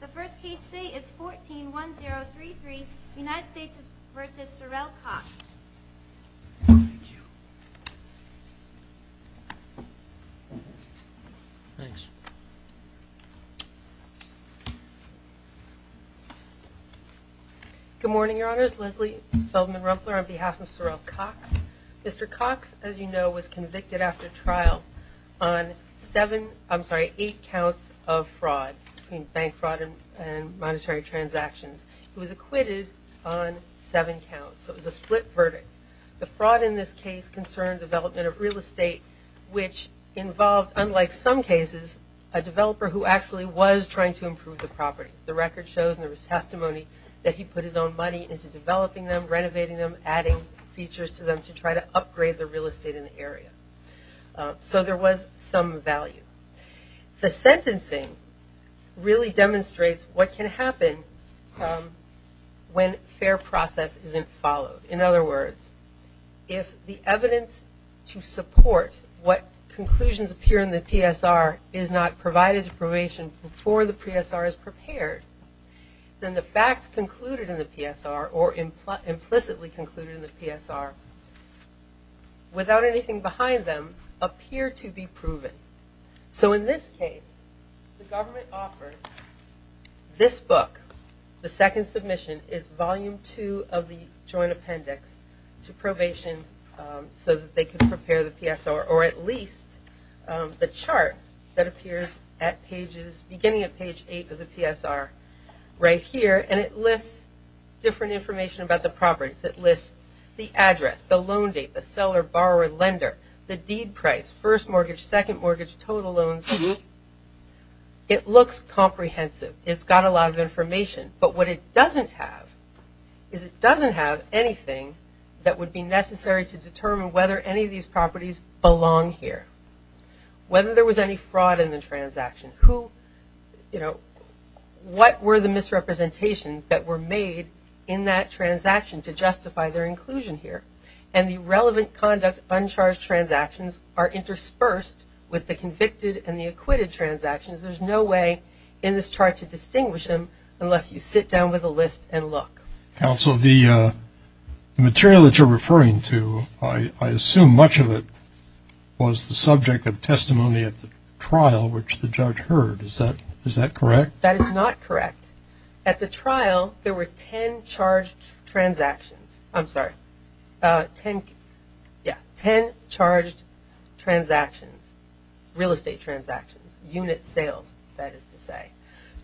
The first case today is 14-1033, United States v. Sorrell Cox. Thank you. Thanks. Good morning, Your Honors. Leslie Feldman Rumpler on behalf of Sorrell Cox. Mr. Cox, as you know, was convicted after trial on seven, I'm sorry, eight counts of fraud, between bank fraud and monetary transactions. He was acquitted on seven counts. It was a split verdict. The fraud in this case concerned development of real estate, which involved, unlike some cases, a developer who actually was trying to improve the properties. The record shows and there was testimony that he put his own money into developing them, to try to upgrade the real estate in the area. So there was some value. The sentencing really demonstrates what can happen when fair process isn't followed. In other words, if the evidence to support what conclusions appear in the PSR is not provided to probation before the PSR is prepared, then the facts concluded in the PSR or implicitly concluded in the PSR, without anything behind them, appear to be proven. So in this case, the government offered this book, the second submission, is volume two of the joint appendix to probation so that they can prepare the PSR, or at least the chart that appears at beginning of page eight of the PSR right here. And it lists different information about the properties. It lists the address, the loan date, the seller, borrower, lender, the deed price, first mortgage, second mortgage, total loans. It looks comprehensive. It's got a lot of information. But what it doesn't have is it doesn't have anything that would be necessary to determine whether any of these properties belong here, whether there was any fraud in the transaction, what were the misrepresentations that were made in that transaction to justify their inclusion here. And the relevant conduct uncharged transactions are interspersed with the convicted and the acquitted transactions. There's no way in this chart to distinguish them unless you sit down with a list and look. Counsel, the material that you're referring to, I assume much of it was the subject of testimony at the trial which the judge heard. Is that correct? That is not correct. At the trial, there were 10 charged transactions. I'm sorry, yeah, 10 charged transactions, real estate transactions, unit sales, that is to say.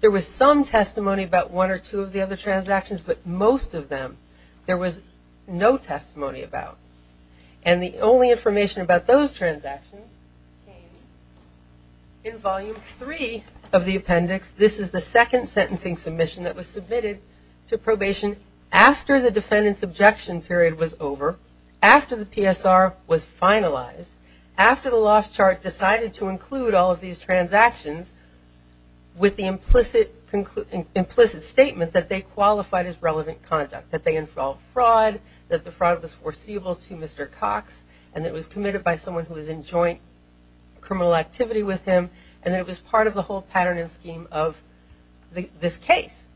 There was some testimony about one or two of the other transactions, but most of them there was no testimony about. And the only information about those transactions came in volume three of the appendix. This is the second sentencing submission that was submitted to probation after the defendant's objection period was over, after the PSR was finalized, after the lost chart decided to include all of these transactions with the implicit statement that they qualified as relevant conduct, that they involved fraud, that the fraud was foreseeable to Mr. Cox, and that it was committed by someone who was in joint criminal activity with him, and that it was part of the whole pattern and scheme of this case.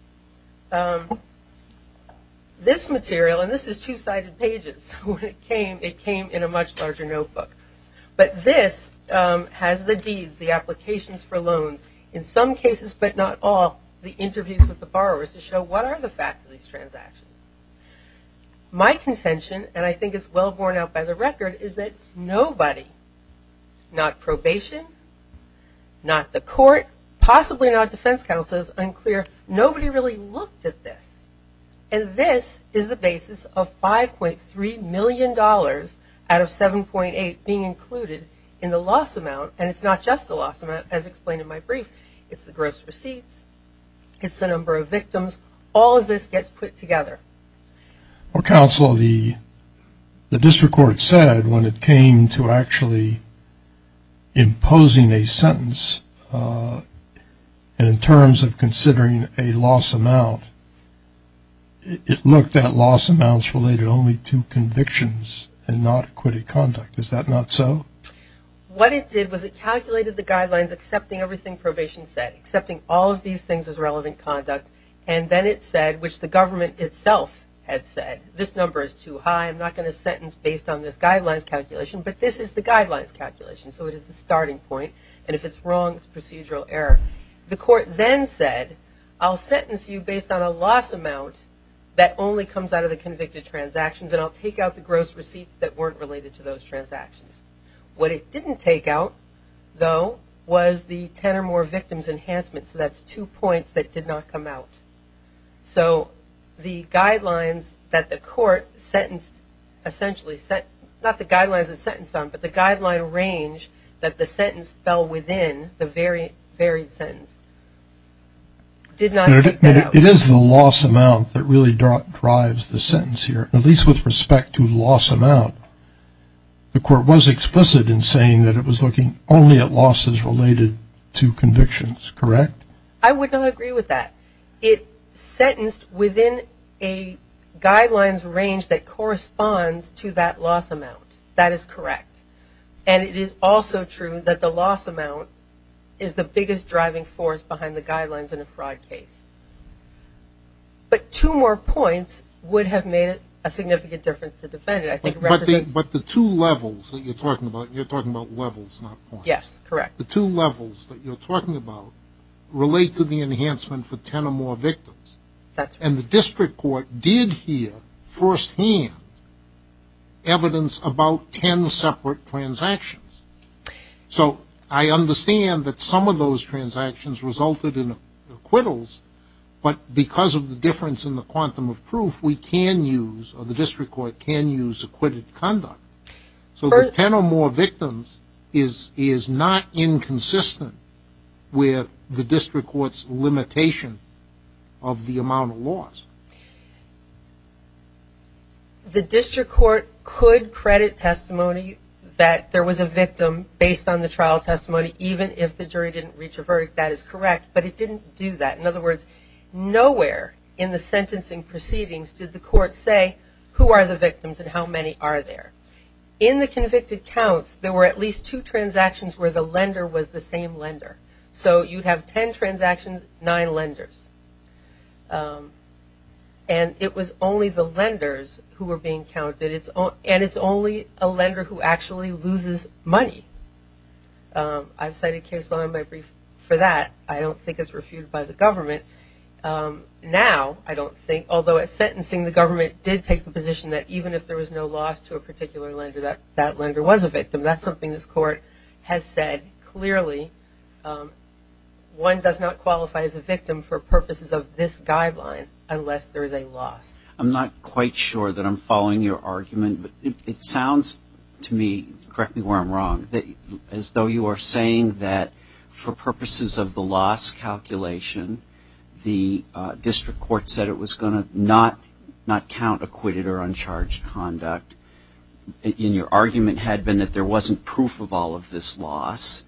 This material, and this is two-sided pages, it came in a much larger notebook. But this has the deeds, the applications for loans, in some cases but not all, the interviews with the borrowers to show what are the facts of these transactions. My contention, and I think it's well borne out by the record, is that nobody, not probation, not the court, possibly not defense counsel, it's unclear, nobody really looked at this. And this is the basis of $5.3 million out of 7.8 being included in the loss amount, and it's not just the loss amount as explained in my brief. It's the gross receipts, it's the number of victims, all of this gets put together. Well, counsel, the district court said when it came to actually imposing a sentence, in terms of considering a loss amount, it looked at loss amounts related only to convictions and not acquitted conduct. Is that not so? What it did was it calculated the guidelines, accepting everything probation said, accepting all of these things as relevant conduct, and then it said, which the government itself had said, this number is too high, I'm not going to sentence based on this guidelines calculation, but this is the guidelines calculation, so it is the starting point, and if it's wrong, it's procedural error. The court then said, I'll sentence you based on a loss amount that only comes out of the convicted transactions, and I'll take out the gross receipts that weren't related to those transactions. What it didn't take out, though, was the 10 or more victims enhancement, so that's two points that did not come out. So the guidelines that the court sentenced essentially, not the guidelines it sentenced on, but the guideline range that the sentence fell within, the varied sentence, did not take that out. It is the loss amount that really drives the sentence here, at least with respect to loss amount. The court was explicit in saying that it was looking only at losses related to convictions, correct? I would not agree with that. It sentenced within a guidelines range that corresponds to that loss amount. That is correct. And it is also true that the loss amount is the biggest driving force behind the guidelines in a fraud case. But two more points would have made a significant difference to defend it. But the two levels that you're talking about, you're talking about levels, not points. Yes, correct. The two levels that you're talking about relate to the enhancement for 10 or more victims. That's right. And the district court did hear firsthand evidence about 10 separate transactions. So I understand that some of those transactions resulted in acquittals, but because of the difference in the quantum of proof, we can use, or the district court can use acquitted conduct. So the 10 or more victims is not inconsistent with the district court's limitation of the amount of loss. The district court could credit testimony that there was a victim based on the trial testimony, even if the jury didn't reach a verdict. That is correct, but it didn't do that. In other words, nowhere in the sentencing proceedings did the court say who are the victims and how many are there. In the convicted counts, there were at least two transactions where the lender was the same lender. So you'd have 10 transactions, nine lenders. And it was only the lenders who were being counted, and it's only a lender who actually loses money. I've cited case law in my brief for that. I don't think it's refuted by the government. Now, I don't think, although at sentencing, the government did take the position that even if there was no loss to a particular lender, that that lender was a victim. That's something this court has said clearly. One does not qualify as a victim for purposes of this guideline unless there is a loss. I'm not quite sure that I'm following your argument, but it sounds to me, correct me where I'm wrong, as though you are saying that for purposes of the loss calculation, the district court said it was going to not count acquitted or uncharged conduct. And your argument had been that there wasn't proof of all of this loss.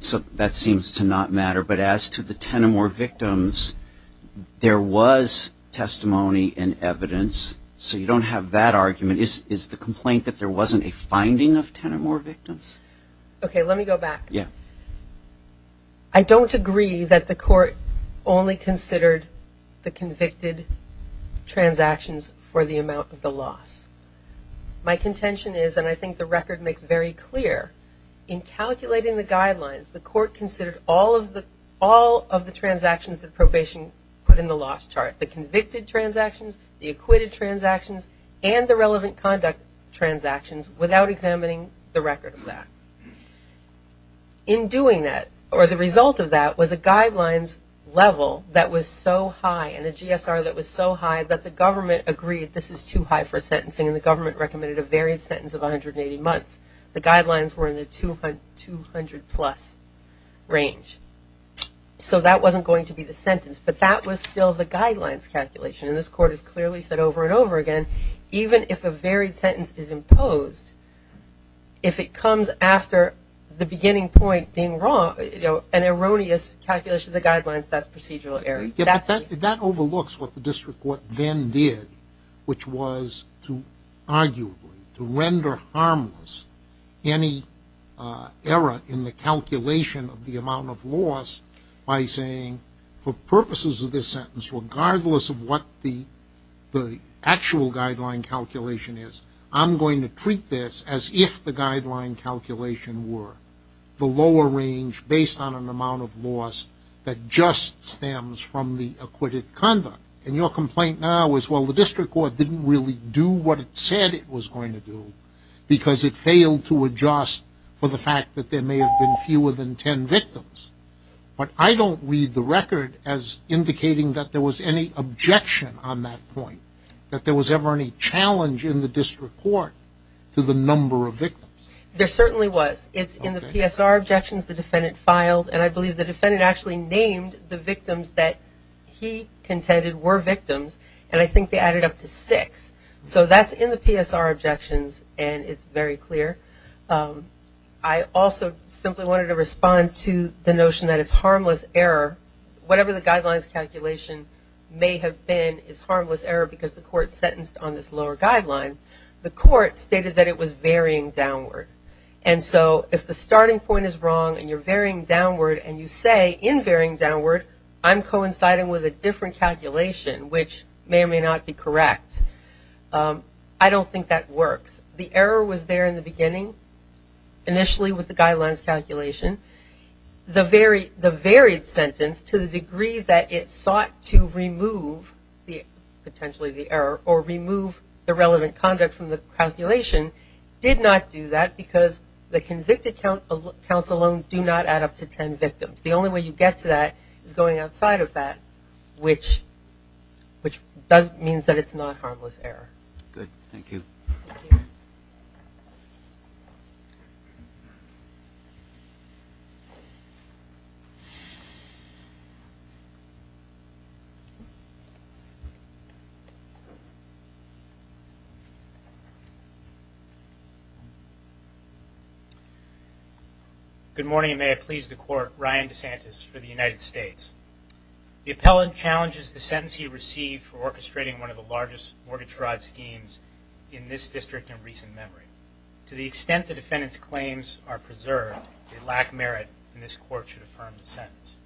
So that seems to not matter. But as to the 10 or more victims, there was testimony and evidence. So you don't have that argument. Is the complaint that there wasn't a finding of 10 or more victims? Okay, let me go back. Yeah. I don't agree that the court only considered the convicted transactions for the amount of the loss. My contention is, and I think the record makes very clear, in calculating the guidelines, the court considered all of the transactions that probation put in the loss chart, the convicted transactions, the acquitted transactions, and the relevant conduct transactions, without examining the record of that. In doing that, or the result of that, was a guidelines level that was so high, and a GSR that was so high, that the government agreed this is too high for sentencing, and the government recommended a varied sentence of 180 months. The guidelines were in the 200-plus range. So that wasn't going to be the sentence, but that was still the guidelines calculation. And this court has clearly said over and over again, even if a varied sentence is imposed, if it comes after the beginning point being wrong, an erroneous calculation of the guidelines, that's procedural error. Yeah, but that overlooks what the district court then did, which was to arguably, to render harmless any error in the calculation of the amount of loss, by saying for purposes of this sentence, regardless of what the actual guideline calculation is, I'm going to treat this as if the guideline calculation were the lower range, based on an amount of loss that just stems from the acquitted conduct. And your complaint now is, well, the district court didn't really do what it said it was going to do, because it failed to adjust for the fact that there may have been fewer than 10 victims. But I don't read the record as indicating that there was any objection on that point, that there was ever any challenge in the district court to the number of victims. There certainly was. It's in the PSR objections the defendant filed, and I believe the defendant actually named the victims that he contended were victims, and I think they added up to six. So that's in the PSR objections, and it's very clear. I also simply wanted to respond to the notion that it's harmless error. Whatever the guidelines calculation may have been is harmless error, because the court sentenced on this lower guideline. The court stated that it was varying downward. And so if the starting point is wrong and you're varying downward and you say, in varying downward, I'm coinciding with a different calculation, which may or may not be correct, I don't think that works. The error was there in the beginning, initially with the guidelines calculation. The varied sentence, to the degree that it sought to remove potentially the error or remove the relevant conduct from the calculation, did not do that because the convicted counts alone do not add up to ten victims. The only way you get to that is going outside of that, which means that it's not harmless error. Good. Thank you. Good morning, and may I please the Court. Ryan DeSantis for the United States. The appellant challenges the sentence he received for orchestrating one of the largest mortgage fraud schemes in this district in recent memory. To the extent the defendant's claims are preserved, they lack merit, and this Court should affirm the sentence.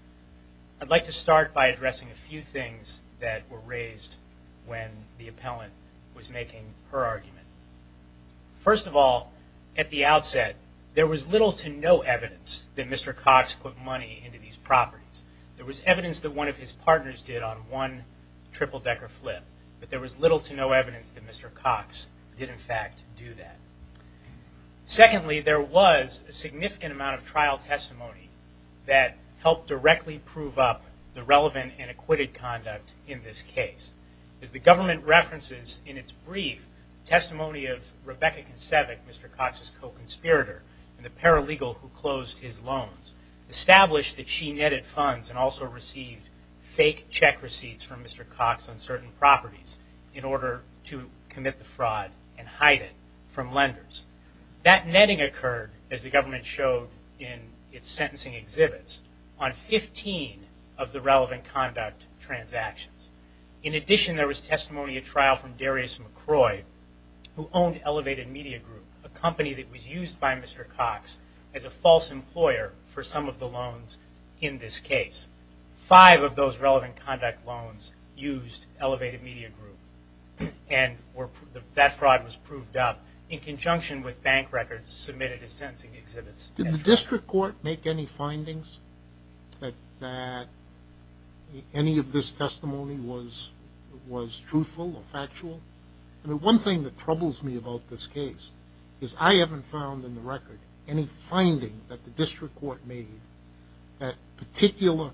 I'd like to start by addressing a few things that were raised when the appellant was making her argument. First of all, at the outset, there was little to no evidence that Mr. Cox put money into these properties. There was evidence that one of his partners did on one triple-decker flip, but there was little to no evidence that Mr. Cox did, in fact, do that. Secondly, there was a significant amount of trial testimony that helped directly prove up the relevant and acquitted conduct in this case. As the government references in its brief testimony of Rebecca Kinsevic, Mr. Cox's co-conspirator and the paralegal who closed his loans, established that she netted funds and also received fake check receipts from Mr. Cox on certain properties in order to commit the fraud and hide it from lenders. That netting occurred, as the government showed in its sentencing exhibits, on 15 of the relevant conduct transactions. In addition, there was testimony at trial from Darius McCroy, who owned Elevated Media Group, a company that was used by Mr. Cox as a false employer for some of the loans in this case. Five of those relevant conduct loans used Elevated Media Group, and that fraud was proved up in conjunction with bank records submitted in sentencing exhibits. Did the district court make any findings that any of this testimony was truthful or factual? I mean, one thing that troubles me about this case is I haven't found in the record any finding that the district court made that particular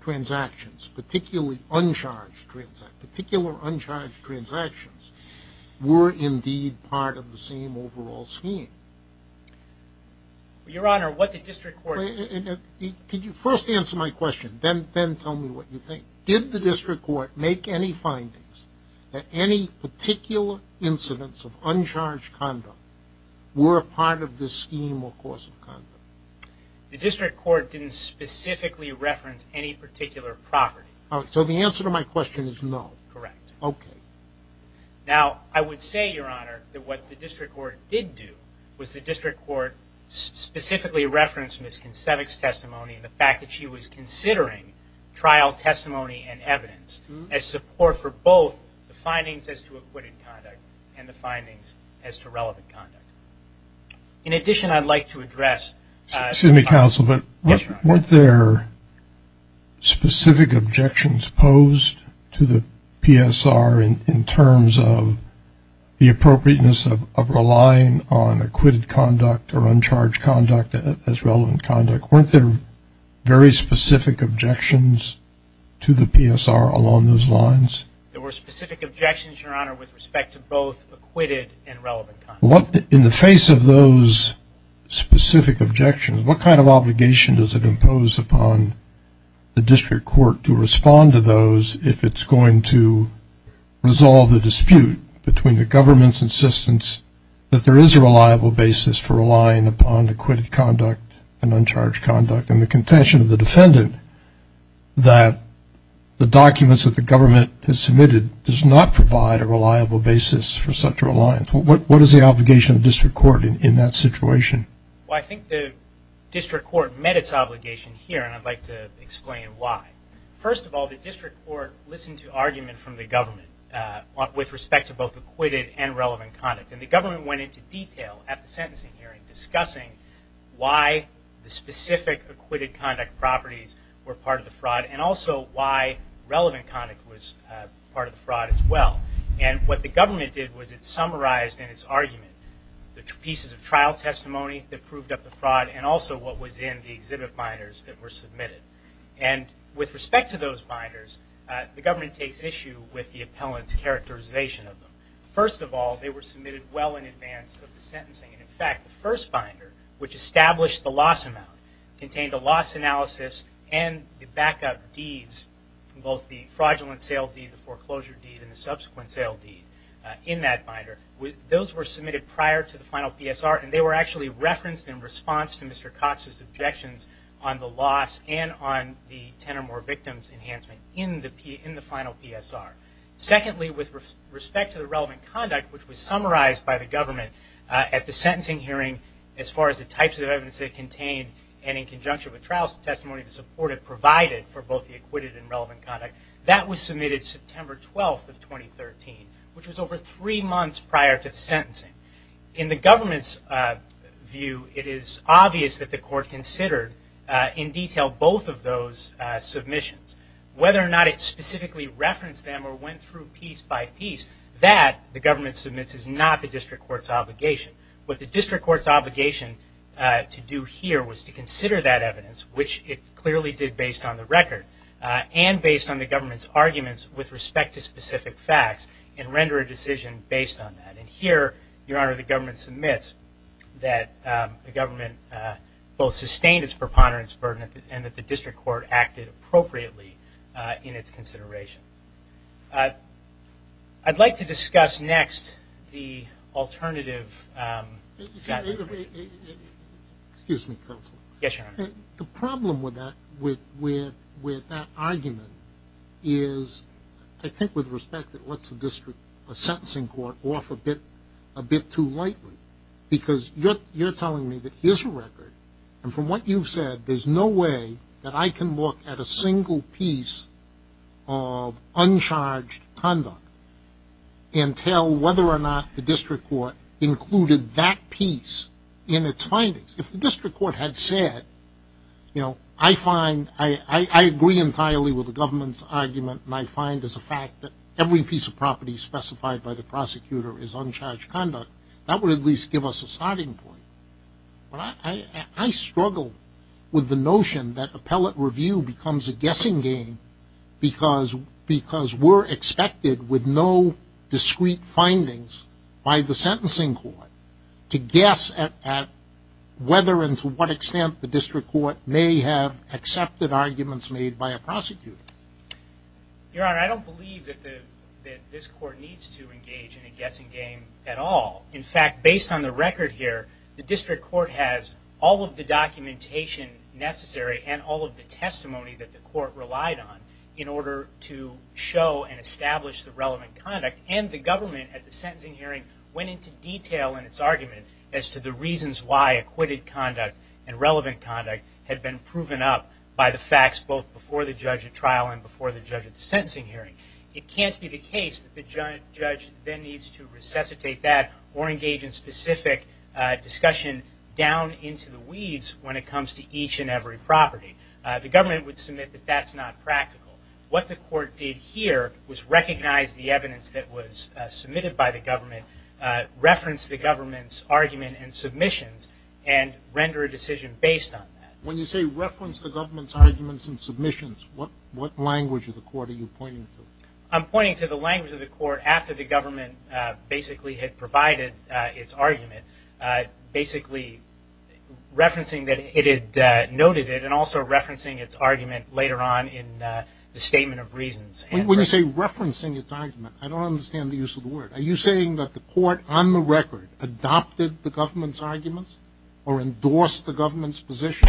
transactions, particularly uncharged transactions, particular uncharged transactions, were indeed part of the same overall scheme. Your Honor, what did district court do? Could you first answer my question, then tell me what you think. Did the district court make any findings that any particular incidents of uncharged conduct were a part of this scheme or course of conduct? The district court didn't specifically reference any particular property. All right, so the answer to my question is no. Correct. Okay. Now, I would say, Your Honor, that what the district court did do was the district court specifically referenced Ms. Kinsevich's testimony and the fact that she was considering trial testimony and evidence as support for both the findings as to acquitted conduct and the findings as to relevant conduct. In addition, I'd like to address- Excuse me, counsel, but weren't there specific objections posed to the PSR in terms of the appropriateness of relying on acquitted conduct or uncharged conduct as relevant conduct? Weren't there very specific objections to the PSR along those lines? There were specific objections, Your Honor, with respect to both acquitted and relevant conduct. In the face of those specific objections, what kind of obligation does it impose upon the district court to respond to those if it's going to resolve the dispute between the government's insistence that there is a reliable basis for relying upon acquitted conduct and uncharged conduct and the contention of the defendant that the documents that the government has submitted does not provide a reliable basis for such a reliance? What is the obligation of the district court in that situation? Well, I think the district court met its obligation here, and I'd like to explain why. First of all, the district court listened to argument from the government with respect to both acquitted and relevant conduct, and the government went into detail at the sentencing hearing discussing why the specific acquitted conduct properties were part of the fraud and also why relevant conduct was part of the fraud as well. And what the government did was it summarized in its argument the pieces of trial testimony that proved up the fraud and also what was in the exhibit binders that were submitted. And with respect to those binders, the government takes issue with the appellant's characterization of them. First of all, they were submitted well in advance of the sentencing. In fact, the first binder, which established the loss amount, contained a loss analysis and the backup deeds, both the fraudulent sale deed, the foreclosure deed, and the subsequent sale deed in that binder. Those were submitted prior to the final PSR, and they were actually referenced in response to Mr. Cox's objections on the loss and on the 10 or more victims enhancement in the final PSR. Secondly, with respect to the relevant conduct, which was summarized by the government at the sentencing hearing as far as the types of evidence it contained and in conjunction with trial testimony to support it provided for both the acquitted and relevant conduct, that was submitted September 12th of 2013, which was over three months prior to the sentencing. In the government's view, it is obvious that the court considered in detail both of those submissions. Whether or not it specifically referenced them or went through piece by piece, that, the government submits, is not the district court's obligation. What the district court's obligation to do here was to consider that evidence, which it clearly did based on the record and based on the government's arguments with respect to specific facts and render a decision based on that. And here, Your Honor, the government submits that the government both sustained its preponderance burden and that the district court acted appropriately in its consideration. I'd like to discuss next the alternative. Excuse me, counsel. Yes, Your Honor. The problem with that argument is, I think, with respect, it lets the district sentencing court off a bit too lightly. Because you're telling me that here's a record, and from what you've said, there's no way that I can look at a single piece of uncharged conduct and tell whether or not the district court included that piece in its findings. If the district court had said, you know, I agree entirely with the government's argument, and I find as a fact that every piece of property specified by the prosecutor is uncharged conduct, that would at least give us a starting point. I struggle with the notion that appellate review becomes a guessing game because we're expected with no discrete findings by the sentencing court to guess at whether and to what extent the district court may have accepted arguments made by a prosecutor. Your Honor, I don't believe that this court needs to engage in a guessing game at all. In fact, based on the record here, the district court has all of the documentation necessary and all of the testimony that the court relied on in order to show and establish the relevant conduct. And the government, at the sentencing hearing, went into detail in its argument as to the reasons why acquitted conduct and relevant conduct had been proven up by the facts both before the judge at trial and before the judge at the sentencing hearing. It can't be the case that the judge then needs to resuscitate that or engage in specific discussion down into the weeds when it comes to each and every property. The government would submit that that's not practical. What the court did here was recognize the evidence that was submitted by the government, reference the government's argument and submissions, and render a decision based on that. When you say reference the government's arguments and submissions, what language of the court are you pointing to? I'm pointing to the language of the court after the government basically had provided its argument, basically referencing that it had noted it and also referencing its argument later on in the statement of reasons. When you say referencing its argument, I don't understand the use of the word. Are you saying that the court on the record adopted the government's arguments or endorsed the government's position,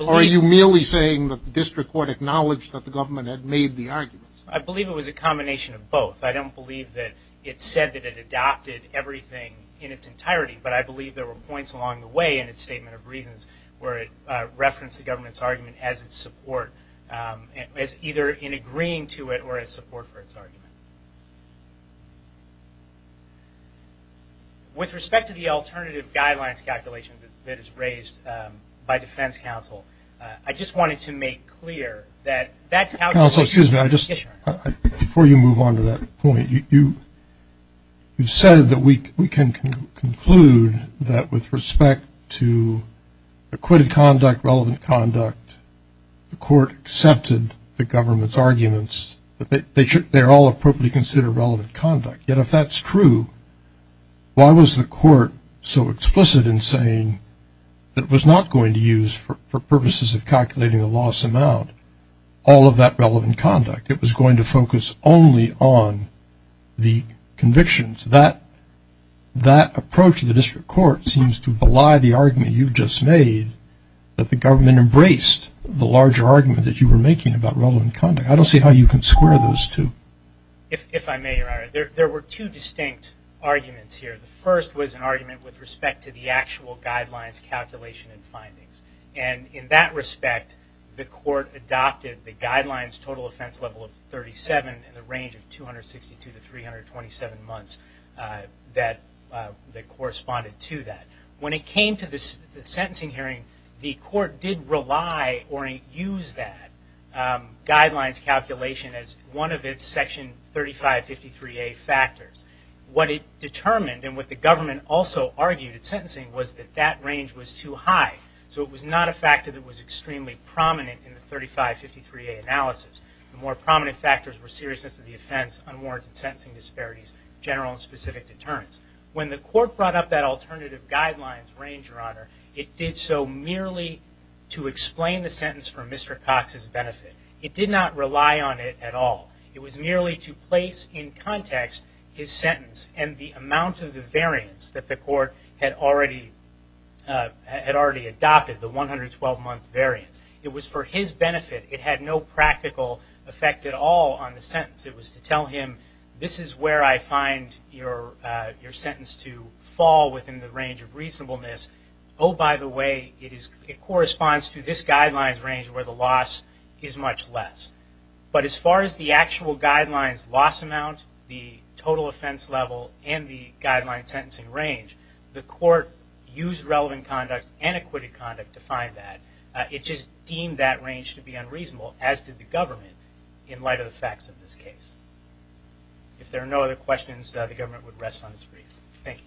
or are you merely saying that the district court acknowledged that the government had made the arguments? I believe it was a combination of both. I don't believe that it said that it adopted everything in its entirety, but I believe there were points along the way in its statement of reasons where it referenced the government's argument as its support, either in agreeing to it or as support for its argument. With respect to the alternative guidelines calculation that is raised by defense counsel, I just wanted to make clear that that calculation was a decision. Before you move on to that point, you said that we can conclude that with respect to acquitted conduct, relevant conduct, the court accepted the government's arguments, that they are all appropriately considered relevant conduct. Yet if that's true, why was the court so explicit in saying that it was not going to use, for purposes of calculating the loss amount, all of that relevant conduct? It was going to focus only on the convictions. That approach to the district court seems to belie the argument you've just made, that the government embraced the larger argument that you were making about relevant conduct. I don't see how you can square those two. If I may, Your Honor, there were two distinct arguments here. The first was an argument with respect to the actual guidelines calculation and findings. In that respect, the court adopted the guidelines total offense level of 37 in the range of 262 to 327 months that corresponded to that. When it came to the sentencing hearing, the court did rely or use that guidelines calculation as one of its section 3553A factors. What it determined, and what the government also argued at sentencing, was that that range was too high. So it was not a factor that was extremely prominent in the 3553A analysis. The more prominent factors were seriousness of the offense, unwarranted sentencing disparities, general and specific deterrence. When the court brought up that alternative guidelines range, Your Honor, it did so merely to explain the sentence for Mr. Cox's benefit. It did not rely on it at all. It was merely to place in context his sentence and the amount of the variance that the court had already adopted, the 112-month variance. It was for his benefit. It had no practical effect at all on the sentence. It was to tell him this is where I find your sentence to fall within the range of reasonableness. Oh, by the way, it corresponds to this guidelines range where the loss is much less. But as far as the actual guidelines loss amount, the total offense level, and the guideline sentencing range, the court used relevant conduct and acquitted conduct to find that. It just deemed that range to be unreasonable, as did the government, in light of the facts of this case. If there are no other questions, the government would rest on its feet. Thank you.